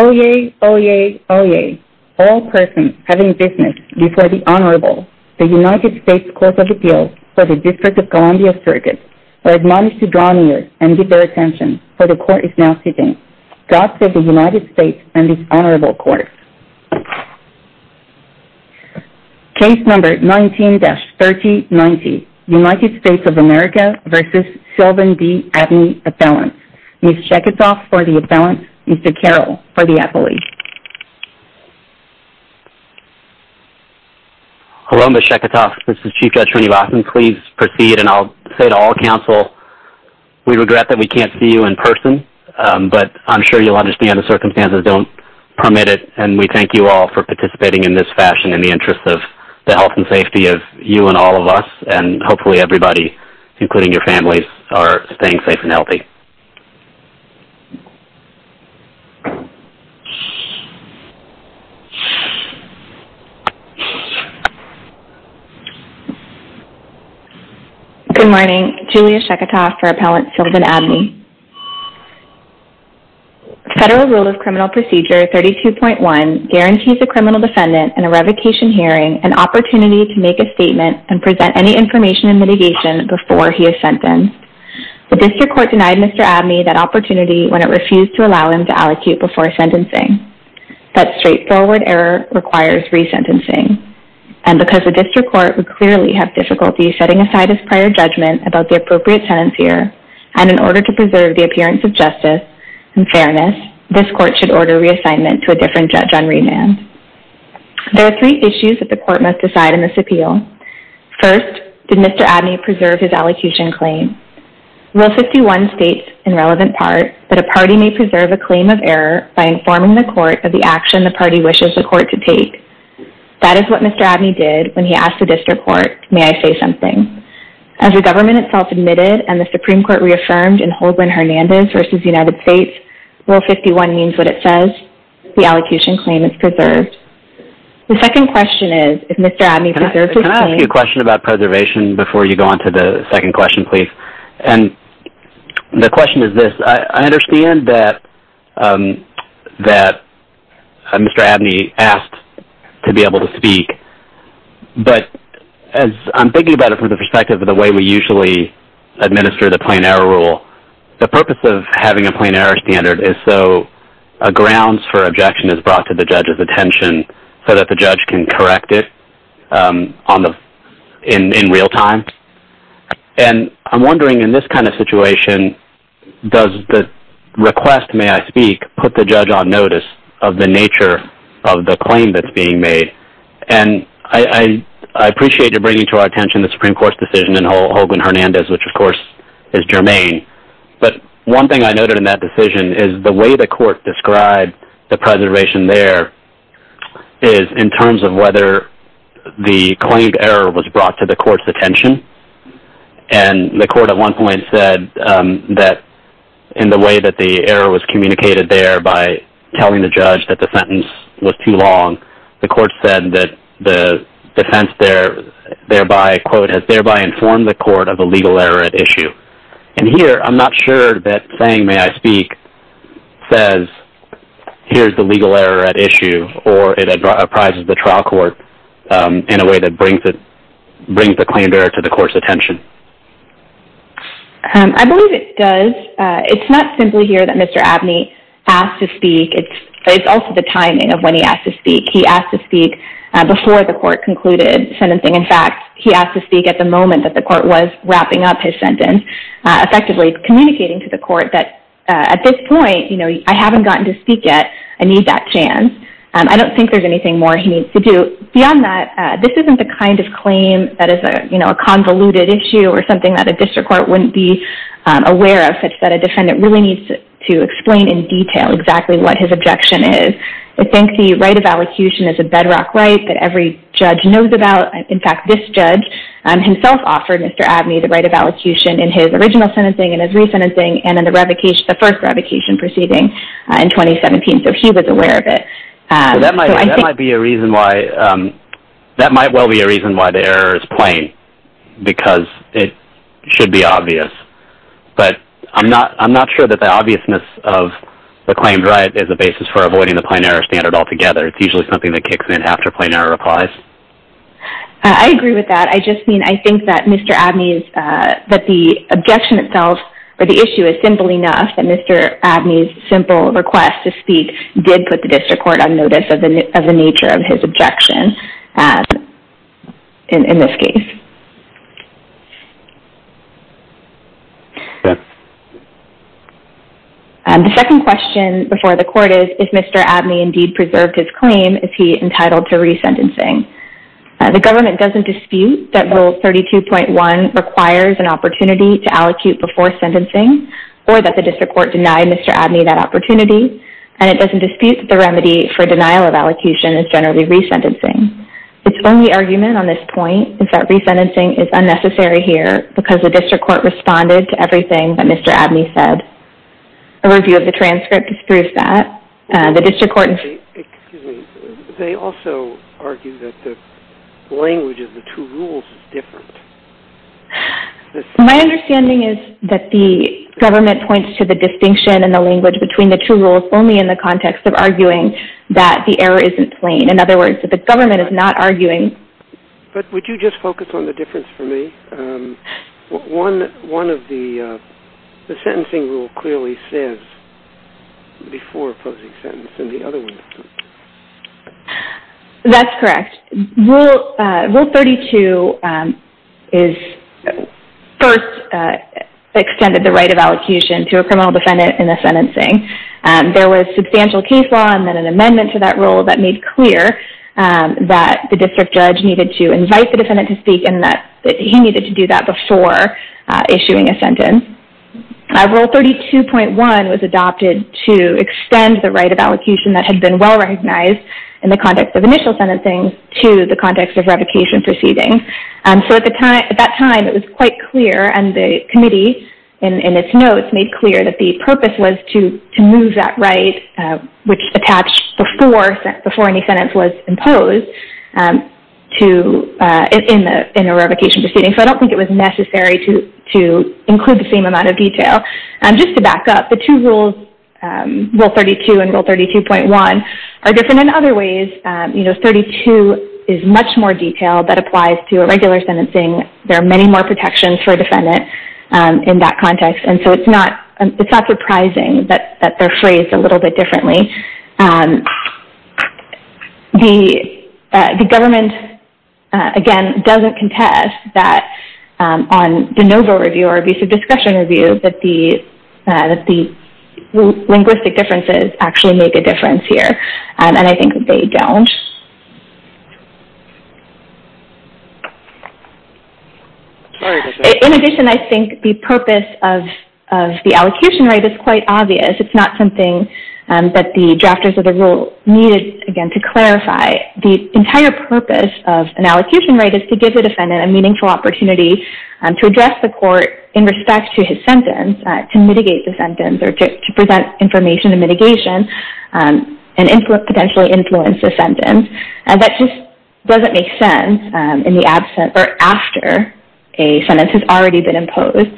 Oyez! Oyez! Oyez! All persons having business before the Honorable, the United States Court of Appeals for the District of Columbia Circuit, are admonished to draw near and give their attention, for the Court is now sitting. God save the United States and this Honorable Court. Case number 19-3090, United States of America v. Sylvan D. Abney, AppellantX. Ms. Sheketoff for the Appellant, Mr. Carroll for the Appellee. Hello, Ms. Sheketoff, this is Chief Judge Ernie Lawson. Please proceed, and I'll say to all counsel, we regret that we can't see you in person, but I'm sure you'll understand the circumstances don't permit it, and we thank you all for participating in this fashion in the interest of the health and safety of you and all of us, and hopefully everybody, including your families, are staying safe and healthy. Good morning, Julia Sheketoff for Appellant Sylvan D. Abney. Federal Rule of Criminal Procedure 32.1 guarantees a criminal defendant in a revocation hearing an opportunity to make a statement and present any information and mitigation before he is sentenced. The District Court denied Mr. Abney that opportunity when it refused to allow him to allocate before sentencing. That straightforward error requires resentencing, and because the District Court would clearly have difficulty setting aside its prior judgment about the appropriate sentence here, and in order to preserve the appearance of justice and fairness, this Court should order reassignment to a different judge on remand. There are three issues that the Court must decide in this appeal. First, did Mr. Abney preserve his allocution claim? Rule 51 states, in relevant part, that a party may preserve a claim of error by informing the Court of the action the party wishes the Court to take. That is what Mr. Abney did when he asked the District Court, may I say something? As the government itself admitted, and the Supreme Court reaffirmed in Hoagland-Hernandez v. United States, Rule 51 means what it says, the allocation claim is preserved. The second question is, if Mr. Abney preserves his claim... From the perspective of the way we usually administer the plain error rule, the purpose of having a plain error standard is so a grounds for objection is brought to the judge's attention so that the judge can correct it in real time. And I'm wondering, in this kind of situation, does the request, may I speak, put the judge on notice of the nature of the claim that's being made? And I appreciate you bringing to our attention the Supreme Court's decision in Hoagland-Hernandez, which of course is germane. But one thing I noted in that decision is the way the Court described the preservation there is in terms of whether the claimed error was brought to the Court's attention. And the Court at one point said that in the way that the error was communicated there by telling the judge that the sentence was too long, the Court said that the defense thereby, quote, has thereby informed the Court of a legal error at issue. And here, I'm not sure that saying, may I speak, says here's the legal error at issue or it apprises the trial court in a way that brings the claimed error to the Court's attention. I believe it does. It's not simply here that Mr. Abney asked to speak. It's also the timing of when he asked to speak. He asked to speak before the Court concluded sentencing. In fact, he asked to speak at the moment that the Court was wrapping up his sentence, effectively communicating to the Court that at this point, I haven't gotten to speak yet. I need that chance. I don't think there's anything more he needs to do. Beyond that, this isn't the kind of claim that is a convoluted issue or something that a district court wouldn't be aware of, such that a defendant really needs to explain in detail exactly what his objection is. I think the right of allocution is a bedrock right that every judge knows about. In fact, this judge himself offered Mr. Abney the right of allocution in his original sentencing and his re-sentencing and in the first revocation proceeding in 2017, so he was aware of it. That might well be a reason why the error is plain, because it should be obvious. But I'm not sure that the obviousness of the claimed right is a basis for avoiding the plain error standard altogether. It's usually something that kicks in after plain error applies. I agree with that. I just mean, I think that Mr. Abney's, that the objection itself or the issue is simple enough that Mr. Abney's simple request to speak did put the district court on notice of the nature of his objection in this case. The second question before the court is, if Mr. Abney indeed preserved his claim, is he entitled to re-sentencing? The government doesn't dispute that Rule 32.1 requires an opportunity to allocute before sentencing or that the district court denied Mr. Abney that opportunity, and it doesn't dispute that the remedy for denial of allocution is generally re-sentencing. Its only argument on this point is that re-sentencing is unnecessary here because the district court responded to everything that Mr. Abney said. A review of the transcript disproves that. The district court… Excuse me. They also argue that the language of the two rules is different. My understanding is that the government points to the distinction in the language between the two rules only in the context of arguing that the error isn't plain. In other words, that the government is not arguing… But would you just focus on the difference for me? One of the, the sentencing rule clearly says before posing sentence and the other one doesn't. That's correct. Rule 32 is first extended the right of allocation to a criminal defendant in the sentencing. There was substantial case law and then an amendment to that rule that made clear that the district judge needed to invite the defendant to speak and that he needed to do that before issuing a sentence. Rule 32.1 was adopted to extend the right of allocation that had been well recognized in the context of initial sentencing to the context of revocation proceeding. At that time, it was quite clear and the committee in its notes made clear that the purpose was to move that right which attached before any sentence was imposed in a revocation proceeding. So I don't think it was necessary to include the same amount of detail. Just to back up, the two rules, Rule 32 and Rule 32.1 are different in other ways. You know, 32 is much more detailed that applies to a regular sentencing. There are many more protections for a defendant in that context. So it's not surprising that they're phrased a little bit differently. The government, again, doesn't contest that on the NOVA review or abusive discretion review that the linguistic differences actually make a difference here. And I think they don't. In addition, I think the purpose of the allocation right is quite obvious. It's not something that the drafters of the rule needed, again, to clarify. The entire purpose of an allocation right is to give the defendant a meaningful opportunity to address the court in respect to his sentence, to mitigate the sentence or to present information and mitigation and potentially influence the sentence. And that just doesn't make sense in the absence or after a sentence has already been imposed.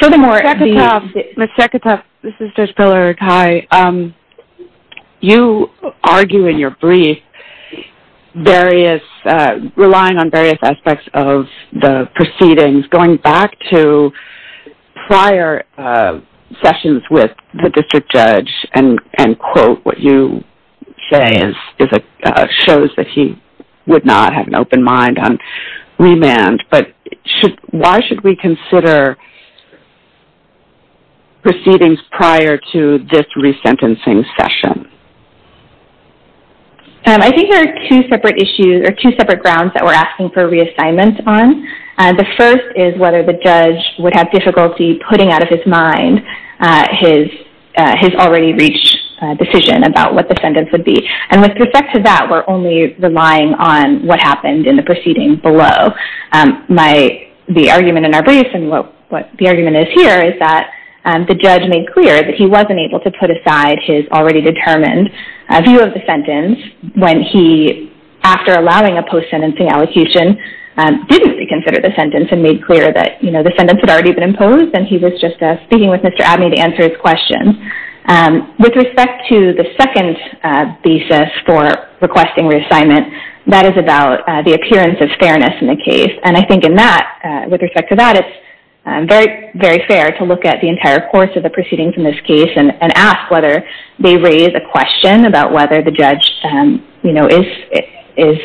Furthermore... Ms. Seketov, this is Judge Pillard. Hi. You argue in your brief relying on various aspects of the proceedings going back to prior sessions with the district judge and quote what you say shows that he would not have an open mind on remand. But why should we consider proceedings prior to this resentencing session? I think there are two separate issues or two separate grounds that we're asking for reassignment on. The first is whether the judge would have difficulty putting out of his mind his already reached decision about what the sentence would be. And with respect to that, we're only relying on what happened in the proceeding below. The argument in our brief and what the argument is here is that the judge made clear that he wasn't able to put aside his already determined view of the sentence when he, after allowing a post-sentencing allocation, didn't consider the sentence and made clear that the sentence had already been imposed and he was just speaking with Mr. Abney to answer his question. With respect to the second thesis for requesting reassignment, that is about the appearance of fairness in the case. And I think in that, with respect to that, it's very fair to look at the entire course of the proceedings in this case and ask whether they raise a question about whether the judge is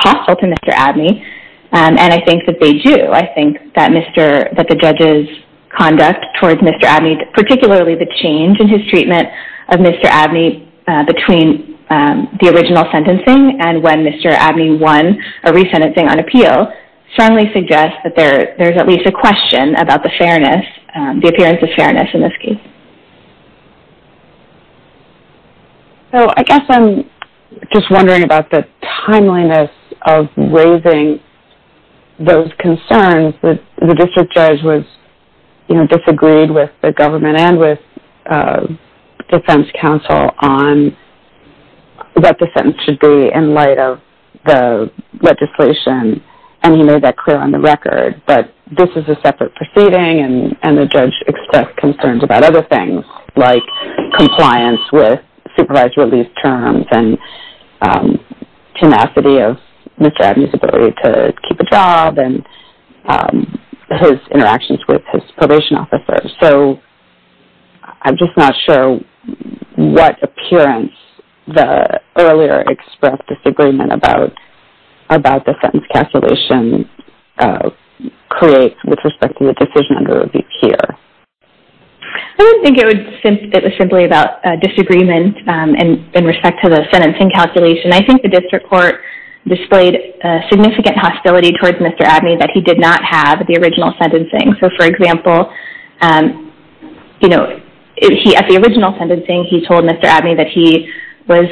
hostile to Mr. Abney. And I think that they do. I think that the judge's conduct towards Mr. Abney, particularly the change in his treatment of Mr. Abney between the original sentencing and when Mr. Abney won a resentencing on appeal, strongly suggests that there's at least a question about the fairness, the appearance of fairness in this case. So I guess I'm just wondering about the timeliness of raising those concerns that the district judge was, you know, disagreed with the government and with defense counsel on what the sentence should be in light of the legislation and he made that clear on the record. But this is a separate proceeding and the judge expressed concerns about other things like compliance with supervised relief terms and tenacity of Mr. Abney's ability to keep a job and his interactions with his probation officer. So I'm just not sure what appearance the earlier expressed disagreement about the sentence calculation creates with respect to the decision under review here. I don't think it was simply about disagreement in respect to the sentencing calculation. I think the district court displayed significant hostility towards Mr. Abney that he did not have the original sentencing. So for example, at the original sentencing he told Mr. Abney that he was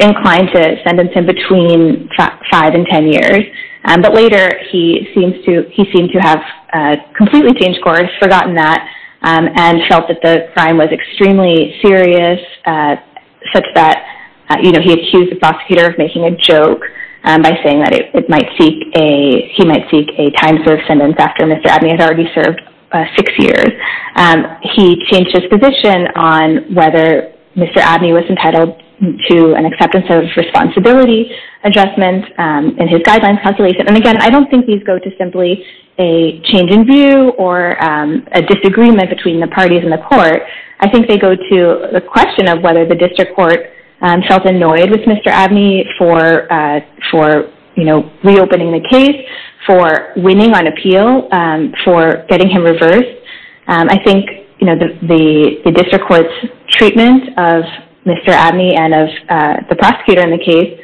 inclined to sentence him between five and ten years. But later he seemed to have completely changed course, forgotten that, and felt that the crime was extremely serious such that, you know, he accused the prosecutor of making a joke by saying that he might seek a time-served sentence after Mr. Abney had already served six years. He changed his position on whether Mr. Abney was entitled to an acceptance of responsibility adjustment in his guidelines calculation. And again, I don't think these go to simply a change in view or a disagreement between the parties in the court. I think they go to the question of whether the district court felt annoyed with Mr. Abney for, you know, reopening the case, for winning on appeal, for getting him reversed. I think, you know, the district court's treatment of Mr. Abney and of the prosecutor in the case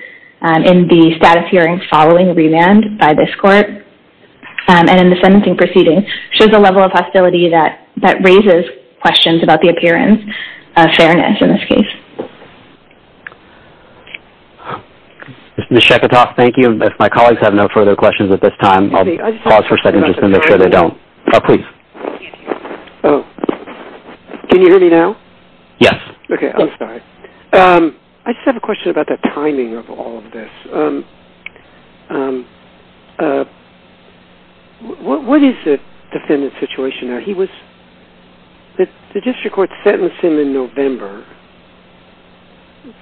in the status hearing following remand by this court and in the sentencing proceedings shows a level of hostility that raises questions about the appearance of fairness in this case. Mr. Sheketoff, thank you. If my colleagues have no further questions at this time, I'll pause for a second just to make sure they don't. Can you hear me now? Yes. Okay, I'm sorry. I just have a question about the timing of all of this. What is the defendant's situation now? The district court sentenced him in November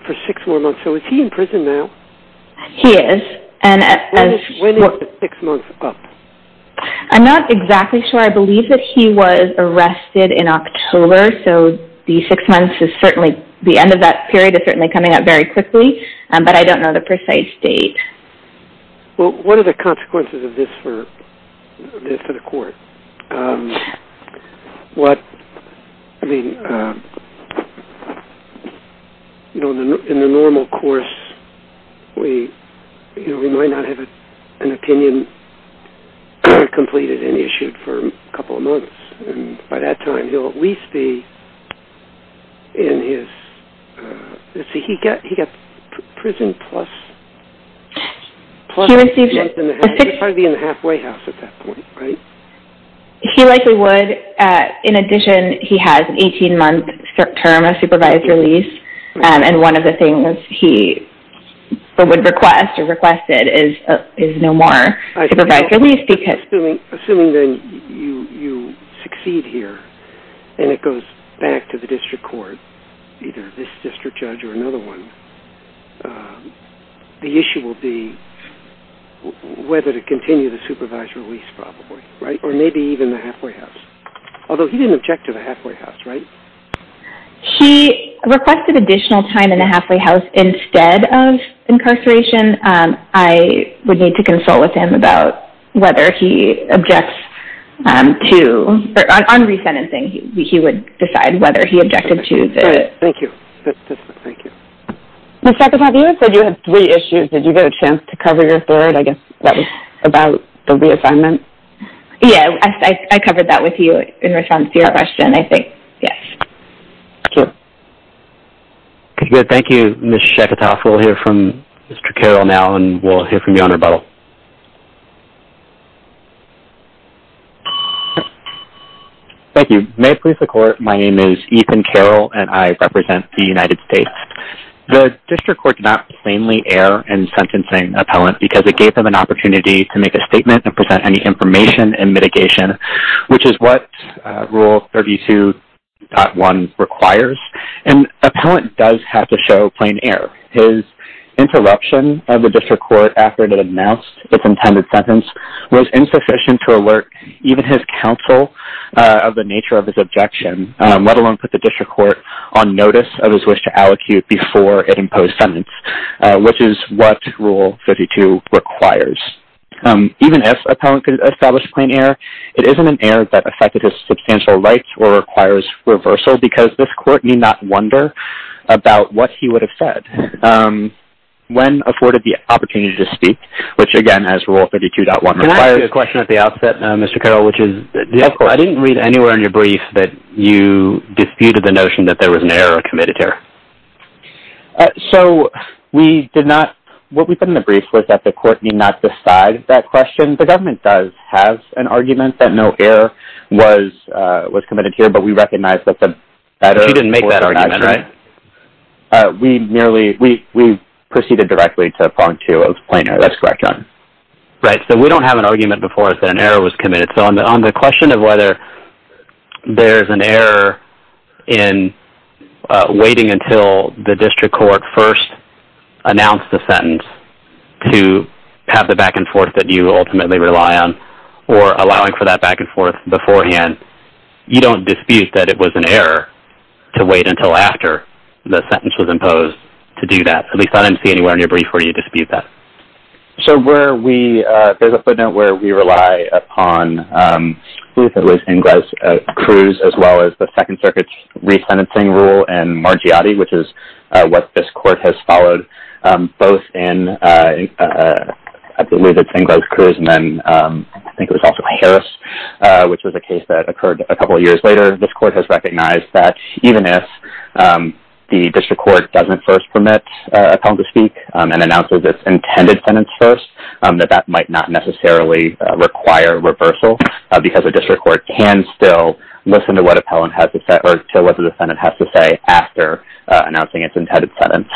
for six more months, so is he in prison now? He is. When is the six months up? I'm not exactly sure. I believe that he was arrested in October, so the end of that period is certainly coming up very quickly, but I don't know the precise date. Well, what are the consequences of this for the court? In the normal course, we might not have an opinion completed and issued for a couple of months, and by that time he'll at least be in his... He likely would. In addition, he has an 18-month term of supervised release, and one of the things he would request or requested is no more supervised release because... Although he didn't object to the halfway house, right? He requested additional time in the halfway house instead of incarceration. I would need to consult with him about whether he objects to... On re-sentencing, he would decide whether he objected to the... Thank you. Ms. Sheketof, you said you had three issues. Did you get a chance to cover your third? I guess that was about the reassignment. Yeah, I covered that with you in response to your question, I think. Yes. Thank you. Okay, good. Thank you, Ms. Sheketof. We'll hear from Mr. Carroll now, and we'll hear from you on rebuttal. Thank you. May it please the court, my name is Ethan Carroll, and I represent the United States. The district court did not plainly err in sentencing an appellant because it gave them an opportunity to make a statement and present any information and mitigation, which is what Rule 32.1 requires. An appellant does have to show plain error. His interruption of the district court after it had announced its intended sentence was insufficient to alert even his counsel of the nature of his objection, let alone put the district court on notice of his wish to allocute before it imposed sentence, which is what Rule 52 requires. Even if an appellant could establish plain error, it isn't an error that affected his substantial rights or requires reversal because this court need not wonder about what he would have said when afforded the opportunity to speak, which again, as Rule 32.1 requires. Can I ask you a question at the outset, Mr. Carroll? Of course. I didn't read anywhere in your brief that you disputed the notion that there was an error or committed error. What we put in the brief was that the court need not decide that question. The government does have an argument that no error was committed here, but we recognize that the… You didn't make that argument, right? We proceeded directly to Part 2 of plain error. That's correct, John. Right, so we don't have an argument before us that an error was committed. So on the question of whether there's an error in waiting until the district court first announced the sentence to have the back and forth that you ultimately rely on or allowing for that back and forth beforehand, you don't dispute that it was an error to wait until after the sentence was imposed to do that. At least I didn't see anywhere in your brief where you dispute that. So where we… There's a footnote where we rely upon… I believe it was Ingrosz-Cruz as well as the Second Circuit's resentencing rule and Margiotti, which is what this court has followed both in… I believe it's Ingrosz-Cruz and then I think it was also Harris, which was a case that occurred a couple of years later. This court has recognized that even if the district court doesn't first permit an appellant to speak and announces its intended sentence first, that that might not necessarily require reversal because a district court can still listen to what an appellant has to say or to what the defendant has to say after announcing its intended sentence.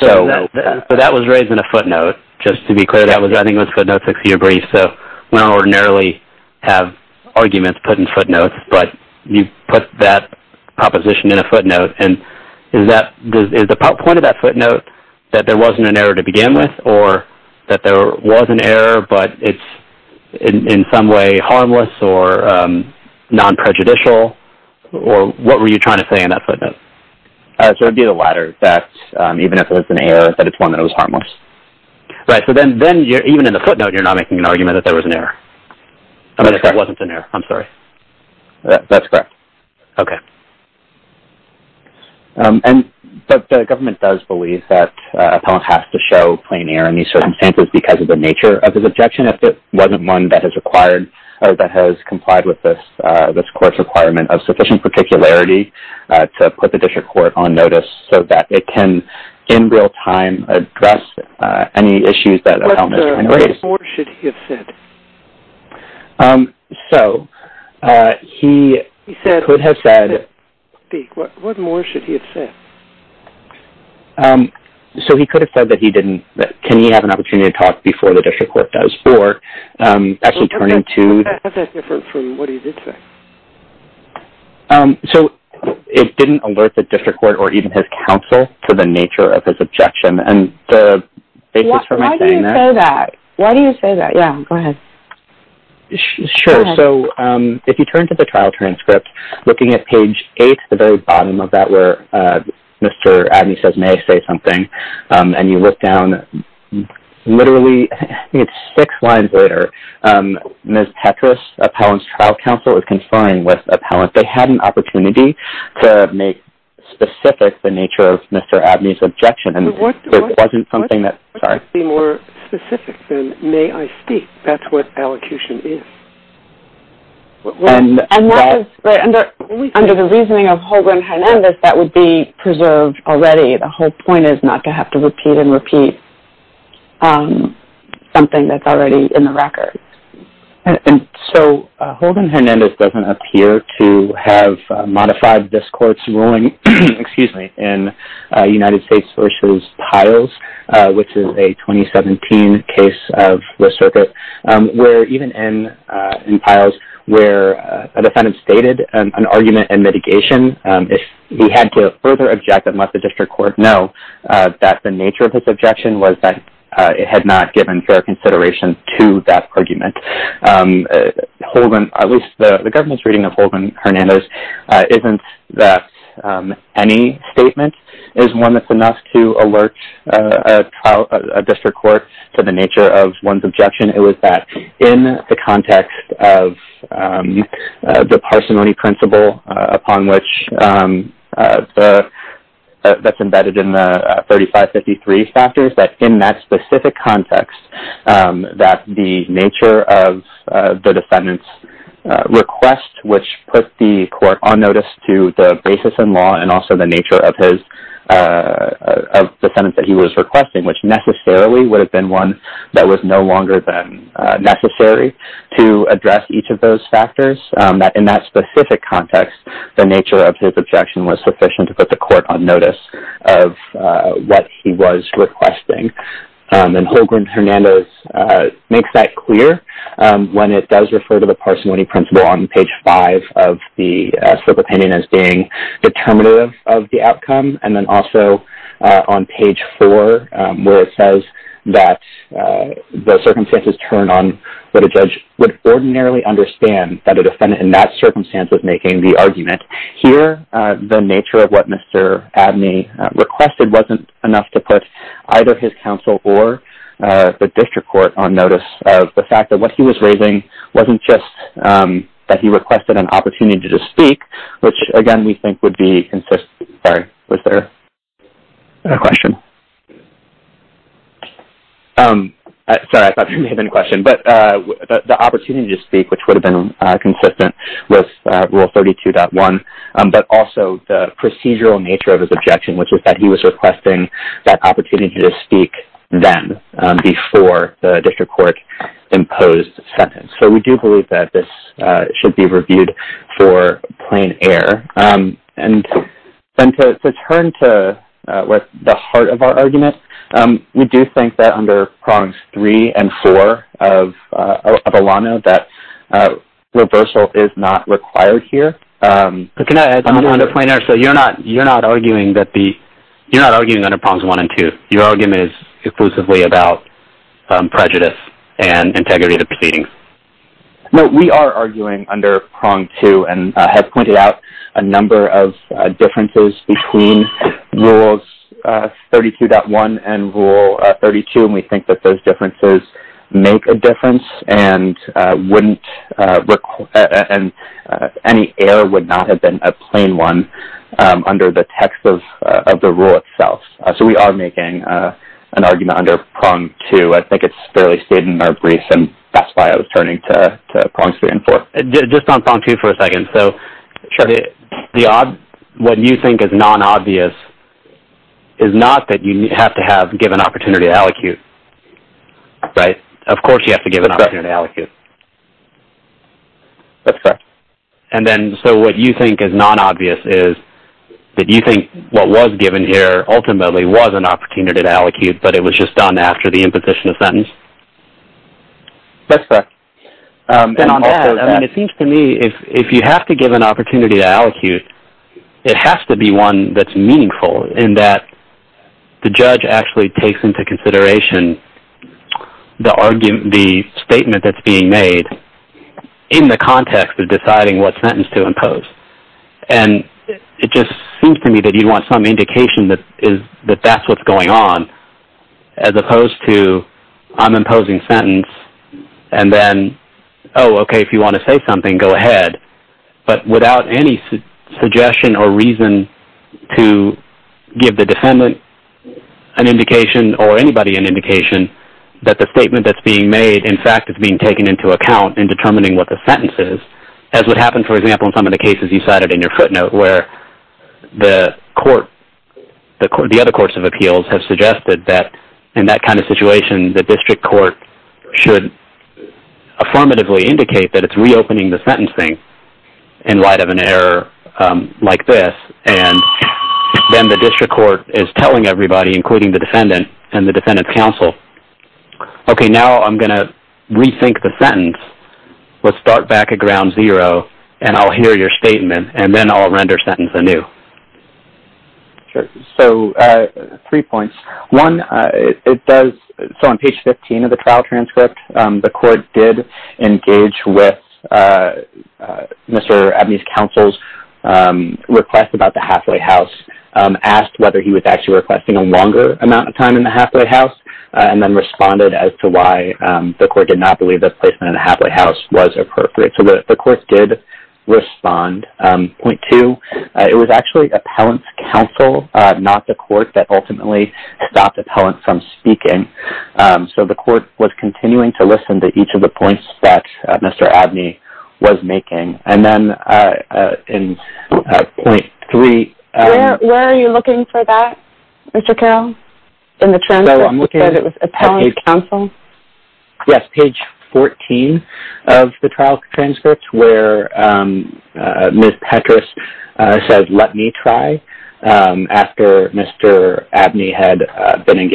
So that was raised in a footnote. Just to be clear, I think that was a footnote, a six-year brief, so we don't ordinarily have arguments put in footnotes, but you put that proposition in a footnote. And is the point of that footnote that there wasn't an error to begin with or that there was an error but it's in some way harmless or non-prejudicial or what were you trying to say in that footnote? So it would be the latter, that even if it was an error, that it's one that was harmless. Right, so then even in the footnote you're not making an argument that there was an error. I'm sorry. That there wasn't an error. I'm sorry. That's correct. Okay. But the government does believe that an appellant has to show plain error in these circumstances because of the nature of his objection if it wasn't one that has complied with this court's requirement of sufficient particularity to put the district court on notice so that it can, in real time, address any issues that an appellant is trying to raise. What more should he have said? So he could have said... What more should he have said? So he could have said that he didn't, that can he have an opportunity to talk before the district court does or actually turning to... What's that different from what he did say? So it didn't alert the district court or even his counsel to the nature of his objection and the basis for my saying that... Why do you say that? Yeah, go ahead. Sure. Go ahead. So if you turn to the trial transcript, looking at page 8, the very bottom of that where Mr. Abney says, may I say something, and you look down literally, I think it's six lines later, Ms. Petras, appellant's trial counsel, is confined with appellants. They had an opportunity to make specific the nature of Mr. Abney's objection. What could be more specific than, may I speak, that's what allocution is? Under the reasoning of Holguin-Hernandez, that would be preserved already. The whole point is not to have to repeat and repeat something that's already in the record. So Holguin-Hernandez doesn't appear to have modified this court's ruling in United States v. Piles, which is a 2017 case of the circuit, where even in Piles, where a defendant stated an argument and mitigation. He had to further object and let the district court know that the nature of his objection was that it had not given fair consideration to that argument. The government's reading of Holguin-Hernandez isn't that any statement is one that's enough to alert a district court to the nature of one's objection. It was that in the context of the parsimony principle upon which that's embedded in the 3553 factors, that in that specific context, that the nature of the defendant's request, which put the court on notice to the basis and law and also the nature of the sentence that he was requesting, which necessarily would have been one that was no longer than necessary to address each of those factors, that in that specific context, the nature of his objection was sufficient to put the court on notice of what he was requesting. Holguin-Hernandez makes that clear when it does refer to the parsimony principle on page 5 of the Circuit Opinion as being determinative of the outcome, and then also on page 4, where it says that the circumstances turn on what a judge would ordinarily understand that a defendant in that circumstance was making the argument. Here, the nature of what Mr. Abney requested wasn't enough to put either his counsel or the district court on notice of the fact that what he was raising wasn't just that he requested an opportunity to speak, which, again, we think would be consistent with Rule 32.1, but also the procedural nature of his objection, which is that he was requesting that opportunity to speak then, before the district court imposed the sentence. So, we do believe that this should be reviewed for plain air. And to turn to the heart of our argument, we do think that under Prongs 3 and 4 of ALANO that reversal is not required here. But can I add something to that? You're not arguing under Prongs 1 and 2. Your argument is exclusively about prejudice and integrity of the proceedings. No, we are arguing under Prongs 2 and have pointed out a number of differences between Rules 32.1 and Rule 32, and we think that those differences make a difference, and any error would not have been a plain one under the text of the rule itself. So, we are making an argument under Prongs 2. I think it's fairly stated in our briefs, and that's why I was turning to Prongs 3 and 4. Just on Prongs 2 for a second. Sure. So, what you think is non-obvious is not that you have to give an opportunity to allocate, right? Of course you have to give an opportunity to allocate. That's correct. So, what you think is non-obvious is that you think what was given here ultimately was an opportunity to allocate, but it was just done after the imposition of sentence? That's correct. It seems to me that if you have to give an opportunity to allocate, it has to be one that's meaningful, in that the judge actually takes into consideration the statement that's being made in the context of deciding what sentence to impose. And it just seems to me that you want some indication that that's what's going on, as opposed to I'm imposing sentence, and then, oh, okay, if you want to say something, go ahead, but without any suggestion or reason to give the defendant an indication or anybody an indication that the statement that's being made, in fact, is being taken into account in determining what the sentence is. As would happen, for example, in some of the cases you cited in your footnote, where the other courts of appeals have suggested that in that kind of situation, the district court should affirmatively indicate that it's reopening the sentencing in light of an error like this, and then the district court is telling everybody, including the defendant and the defendant's counsel, okay, now I'm going to rethink the sentence. Let's start back at ground zero, and I'll hear your statement, and then I'll render sentence anew. Sure. So three points. One, it does, so on page 15 of the trial transcript, the court did engage with Mr. Abney's counsel's request about the halfway house, asked whether he was actually requesting a longer amount of time in the halfway house, and then responded as to why the court did not believe that placement in the halfway house was appropriate. So the court did respond. Point two, it was actually appellant's counsel, not the court, that ultimately stopped appellant from speaking. So the court was continuing to listen to each of the points that Mr. Abney was making. And then in point three. Where are you looking for that, Mr. Carroll, in the transcript, that it was appellant's counsel? Yes, page 14 of the trial transcripts where Ms. Petras said, let me try after Mr. Abney had been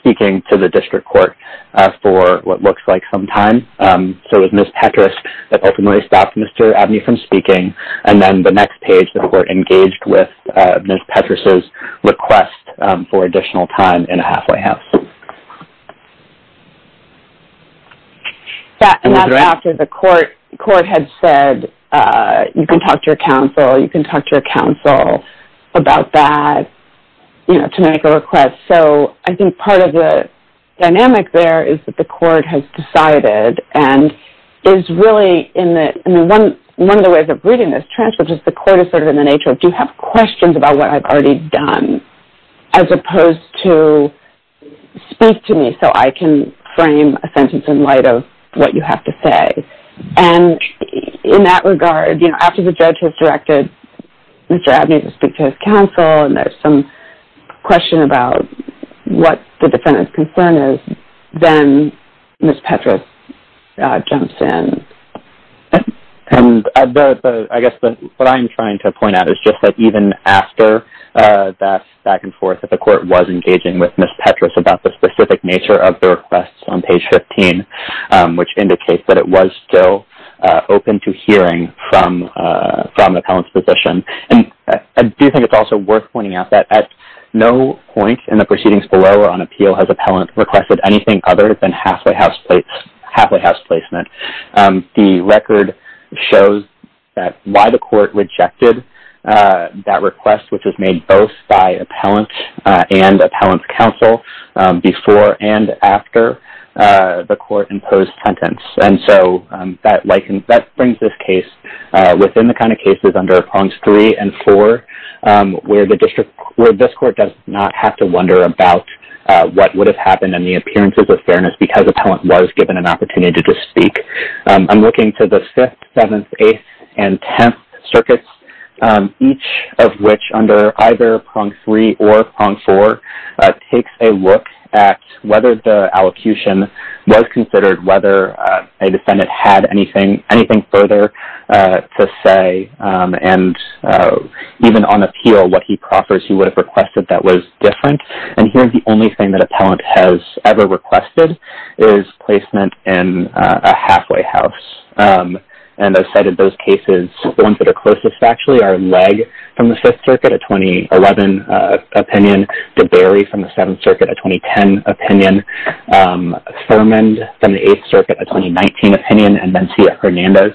speaking to the district court for what looks like some time. So it was Ms. Petras that ultimately stopped Mr. Abney from speaking. And then the next page, the court engaged with Ms. Petras' request for additional time in a halfway house. And that's after the court had said, you can talk to your counsel, you can talk to your counsel about that, you know, to make a request. So I think part of the dynamic there is that the court has decided and is really in the, I mean, one of the ways of reading this transcript is the court is sort of in the nature of, do you have questions about what I've already done as opposed to speak to me so I can frame a sentence in light of what you have to say. And in that regard, you know, after the judge has directed Mr. Abney to speak to his counsel and there's some question about what the defendant's concern is, then Ms. Petras jumps in. And I guess what I'm trying to point out is just that even after that back and forth, that the court was engaging with Ms. Petras about the specific nature of the request on page 15, which indicates that it was still open to hearing from an appellant's position. And I do think it's also worth pointing out that at no point in the proceedings below or on appeal has appellant requested anything other than halfway house placement. The record shows that why the court rejected that request, which was made both by appellant and appellant's counsel before and after the court imposed sentence. And so that brings this case within the kind of cases under prongs three and four, where this court does not have to wonder about what would have happened and the appearances of fairness because appellant was given an opportunity to speak. I'm looking to the fifth, seventh, eighth, and tenth circuits, each of which under either prong three or prong four, takes a look at whether the allocution was considered, whether a defendant had anything further to say, and even on appeal what he proffers he would have requested that was different. And here the only thing that appellant has ever requested is placement in a halfway house. And I've cited those cases. The ones that are closest actually are Legg from the Fifth Circuit, a 2011 opinion, DeBerry from the Seventh Circuit, a 2010 opinion, Thurmond from the Eighth Circuit, a 2019 opinion, and Mencia-Hernandez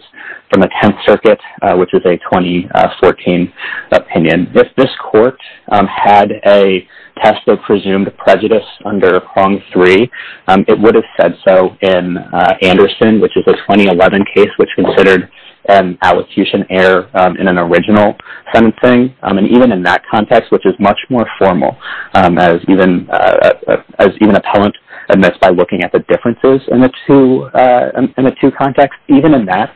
from the Tenth Circuit, which is a 2014 opinion. If this court had a test of presumed prejudice under prong three, it would have said so in Anderson, which is a 2011 case, which considered an allocution error in an original sentencing. And even in that context, which is much more formal, as even appellant admits by looking at the differences in the two contexts, even in that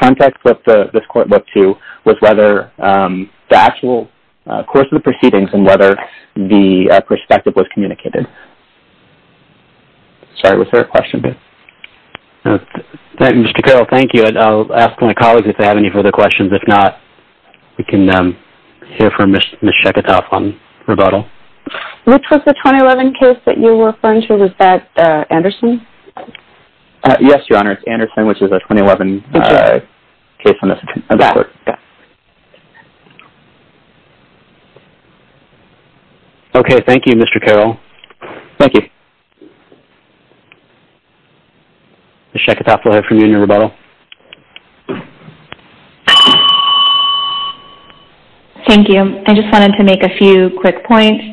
context that this court looked to was whether the actual course of the proceedings and whether the perspective was communicated. Sorry, was there a question? Mr. Carroll, thank you. I'll ask my colleagues if they have any further questions. If not, we can hear from Ms. Sheketoff on rebuttal. Which was the 2011 case that you referred to? Was that Anderson? Yes, Your Honor. It's Anderson, which is a 2011 case on this court. Okay, thank you, Mr. Carroll. Thank you. Ms. Sheketoff, we'll hear from you in your rebuttal. Thank you. I just wanted to make a few quick points.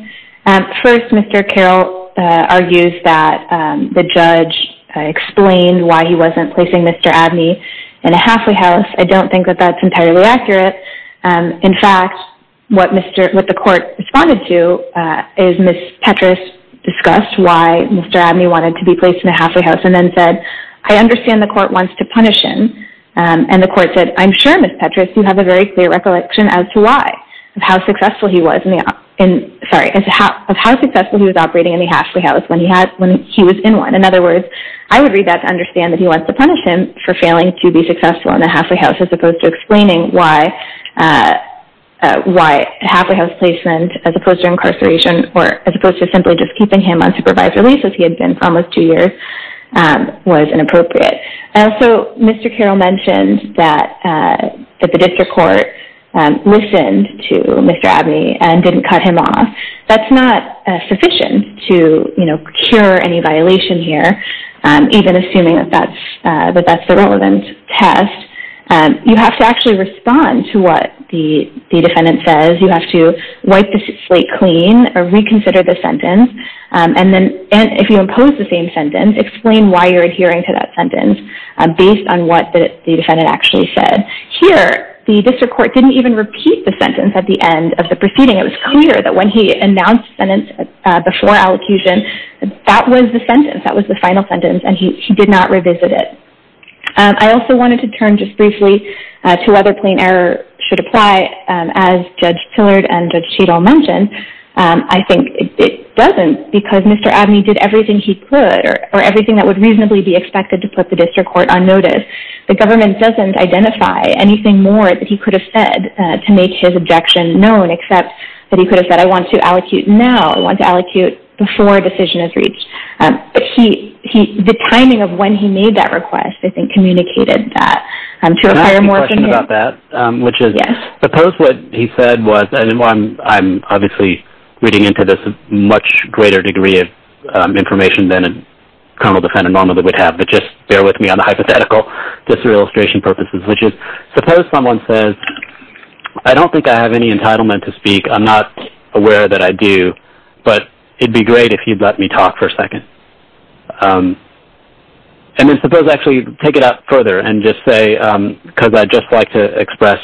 First, Mr. Carroll argues that the judge explained why he wasn't placing Mr. Abney in a halfway house. I don't think that that's entirely accurate. In fact, what the court responded to is Ms. Petras discussed why Mr. Abney wanted to be placed in a halfway house and then said, I understand the court wants to punish him. And the court said, I'm sure, Ms. Petras, you have a very clear recollection as to why, of how successful he was operating in a halfway house when he was in one. In other words, I would read that to understand that he wants to punish him for failing to be successful in a halfway house as opposed to explaining why a halfway house placement, as opposed to incarceration, or as opposed to simply just keeping him on supervised release as he had been for almost two years, was inappropriate. Also, Mr. Carroll mentioned that the district court listened to Mr. Abney and didn't cut him off. That's not sufficient to cure any violation here, even assuming that that's the relevant test. You have to actually respond to what the defendant says. You have to wipe the slate clean or reconsider the sentence. And if you impose the same sentence, explain why you're adhering to that sentence based on what the defendant actually said. Here, the district court didn't even repeat the sentence at the end of the proceeding. It was clear that when he announced the sentence before allocution, that was the sentence. That was the final sentence, and he did not revisit it. I also wanted to turn just briefly to whether plain error should apply. As Judge Tillard and Judge Cheadle mentioned, I think it doesn't because Mr. Abney did everything he could or everything that would reasonably be expected to put the district court on notice. The government doesn't identify anything more that he could have said to make his objection known except that he could have said, I want to allocute now. I want to allocute before a decision is reached. The timing of when he made that request, I think, communicated that. Can I ask you a question about that, which is suppose what he said was, and I'm obviously reading into this a much greater degree of information than a criminal defendant normally would have, but just bear with me on the hypothetical just for illustration purposes, which is suppose someone says, I don't think I have any entitlement to speak. I'm not aware that I do, but it'd be great if you'd let me talk for a second. And then suppose actually take it out further and just say, because I'd just like to express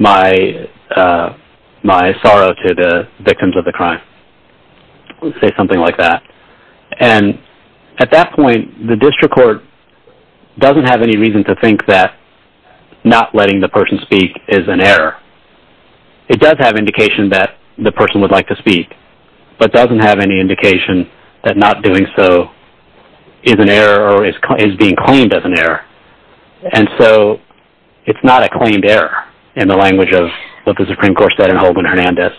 my sorrow to the victims of the crime. Let's say something like that. And at that point, the district court doesn't have any reason to think that not letting the person speak is an error. It does have indication that the person would like to speak, but doesn't have any indication that not doing so is an error or is being claimed as an error. And so it's not a claimed error in the language of what the Supreme Court said in Holman-Hernandez.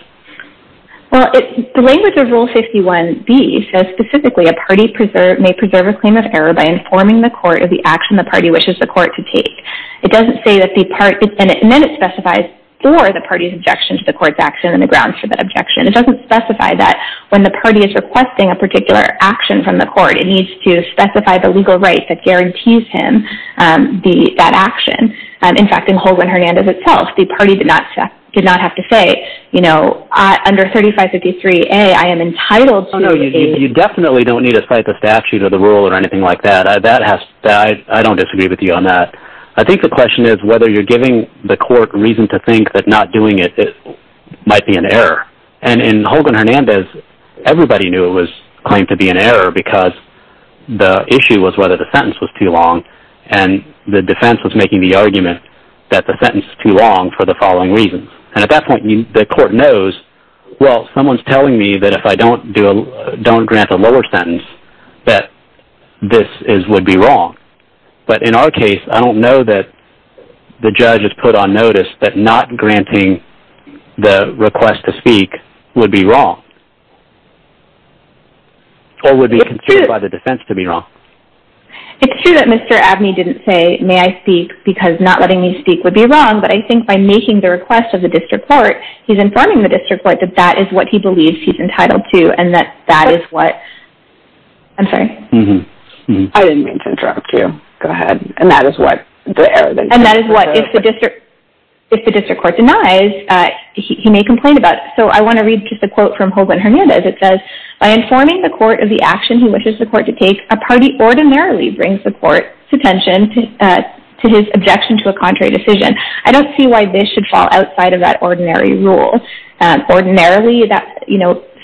Well, the language of Rule 51B says specifically a party may preserve a claim of error by informing the court of the action the party wishes the court to take. It doesn't say that the party, and then it specifies for the party's objection to the court's action and the grounds for that objection. It doesn't specify that when the party is requesting a particular action from the court, it needs to specify the legal right that guarantees him that action. In fact, in Holman-Hernandez itself, the party did not have to say, you know, under 3553A, I am entitled to... Oh, no, you definitely don't need to fight the statute or the rule or anything like that. I don't disagree with you on that. I think the question is whether you're giving the court reason to think that not doing it might be an error. And in Holman-Hernandez, everybody knew it was claimed to be an error because the issue was whether the sentence was too long, and the defense was making the argument that the sentence is too long for the following reasons. And at that point, the court knows, well, someone's telling me that if I don't grant a lower sentence, that this would be wrong. But in our case, I don't know that the judge has put on notice that not granting the request to speak would be wrong, or would be considered by the defense to be wrong. It's true that Mr. Abney didn't say, may I speak, because not letting me speak would be wrong, but I think by making the request of the district court, he's informing the district court that that is what he believes he's entitled to and that that is what... I'm sorry. I didn't mean to interrupt you. Go ahead. And that is what the error... And that is what, if the district court denies, he may complain about. So I want to read just a quote from Holman-Hernandez. It says, by informing the court of the action he wishes the court to take, a party ordinarily brings the court's attention to his objection to a contrary decision. I don't see why this should fall outside of that ordinary rule. Ordinarily,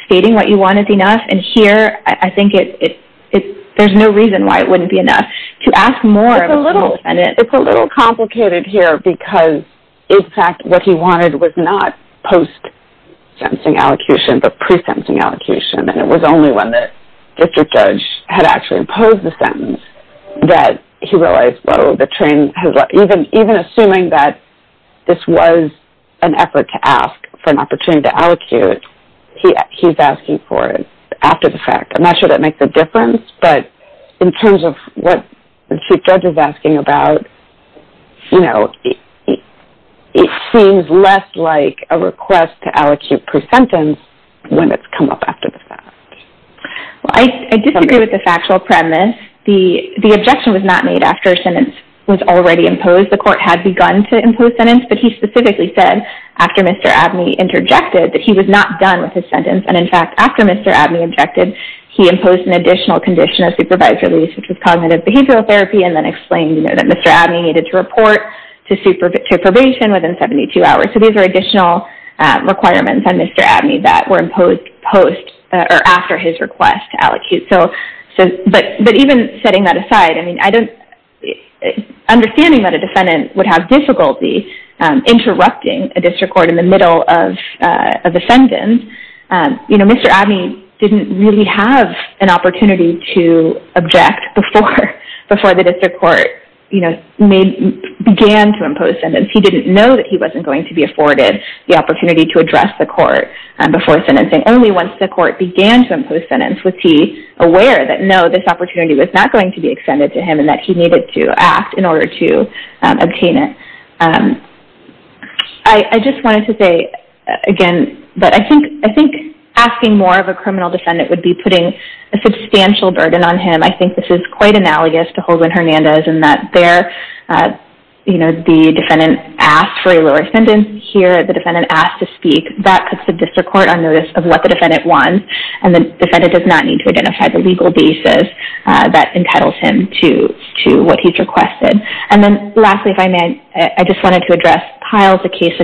stating what you want is enough, and here I think there's no reason why it wouldn't be enough. To ask more of a full defendant... It's a little complicated here because, in fact, what he wanted was not post-sentencing allocution, but pre-sentencing allocution, and it was only when the district judge had actually imposed the sentence that he realized, well, the train has left. Even assuming that this was an effort to ask for an opportunity to allocate, he's asking for it after the fact. I'm not sure that makes a difference, but in terms of what the district judge is asking about, you know, it seems less like a request to allocate pre-sentence when it's come up after the fact. Well, I disagree with the factual premise. The objection was not made after a sentence was already imposed. The court had begun to impose sentence, but he specifically said, after Mr. Abney interjected, that he was not done with his sentence. And, in fact, after Mr. Abney objected, he imposed an additional condition of supervised release, which was cognitive behavioral therapy, and then explained, you know, that Mr. Abney needed to report to probation within 72 hours. So these are additional requirements on Mr. Abney that were imposed post or after his request to allocate. But even setting that aside, I mean, understanding that a defendant would have difficulty interrupting a district court in the middle of a defendant, you know, Mr. Abney didn't really have an opportunity to object before the district court, you know, began to impose sentence. He didn't know that he wasn't going to be afforded the opportunity to address the court before sentencing. Only once the court began to impose sentence was he aware that, no, this opportunity was not going to be extended to him and that he needed to act in order to obtain it. I just wanted to say, again, that I think asking more of a criminal defendant would be putting a substantial burden on him. I think this is quite analogous to Holden Hernandez in that there, you know, the defendant asked for a lower sentence. Here, the defendant asked to speak. That puts the district court on notice of what the defendant wants, and the defendant does not need to identify the legal basis that entitles him to what he's requested. And then, lastly, if I may, I just wanted to address Pyle's case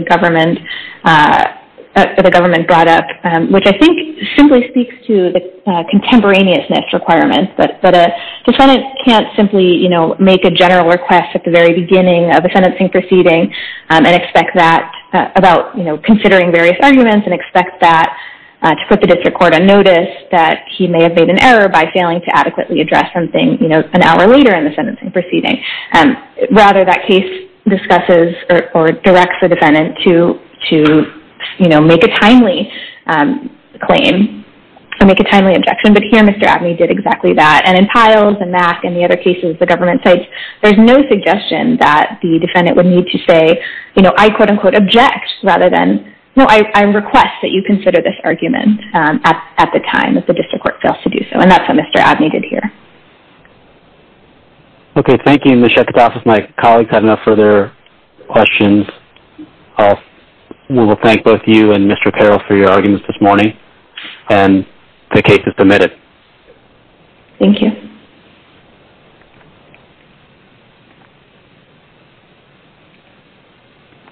that the government brought up, which I think simply speaks to the contemporaneousness requirements, that a defendant can't simply, you know, make a general request at the very beginning of a sentencing proceeding and expect that about, you know, considering various arguments, and expect that to put the district court on notice that he may have made an error by failing to adequately address something, you know, an hour later in the sentencing proceeding. Rather, that case discusses or directs the defendant to, you know, make a timely claim, to make a timely objection, but here Mr. Abney did exactly that. And in Pyle's and Mack and the other cases, the government sites, there's no suggestion that the defendant would need to say, you know, I quote-unquote object, rather than, no, I request that you consider this argument at the time that the district court fails to do so. And that's what Mr. Abney did here. Okay. Thank you, Ms. Shekatopoulos. If my colleagues have no further questions, we will thank both you and Mr. Carroll for your arguments this morning, and the case is submitted. Thank you.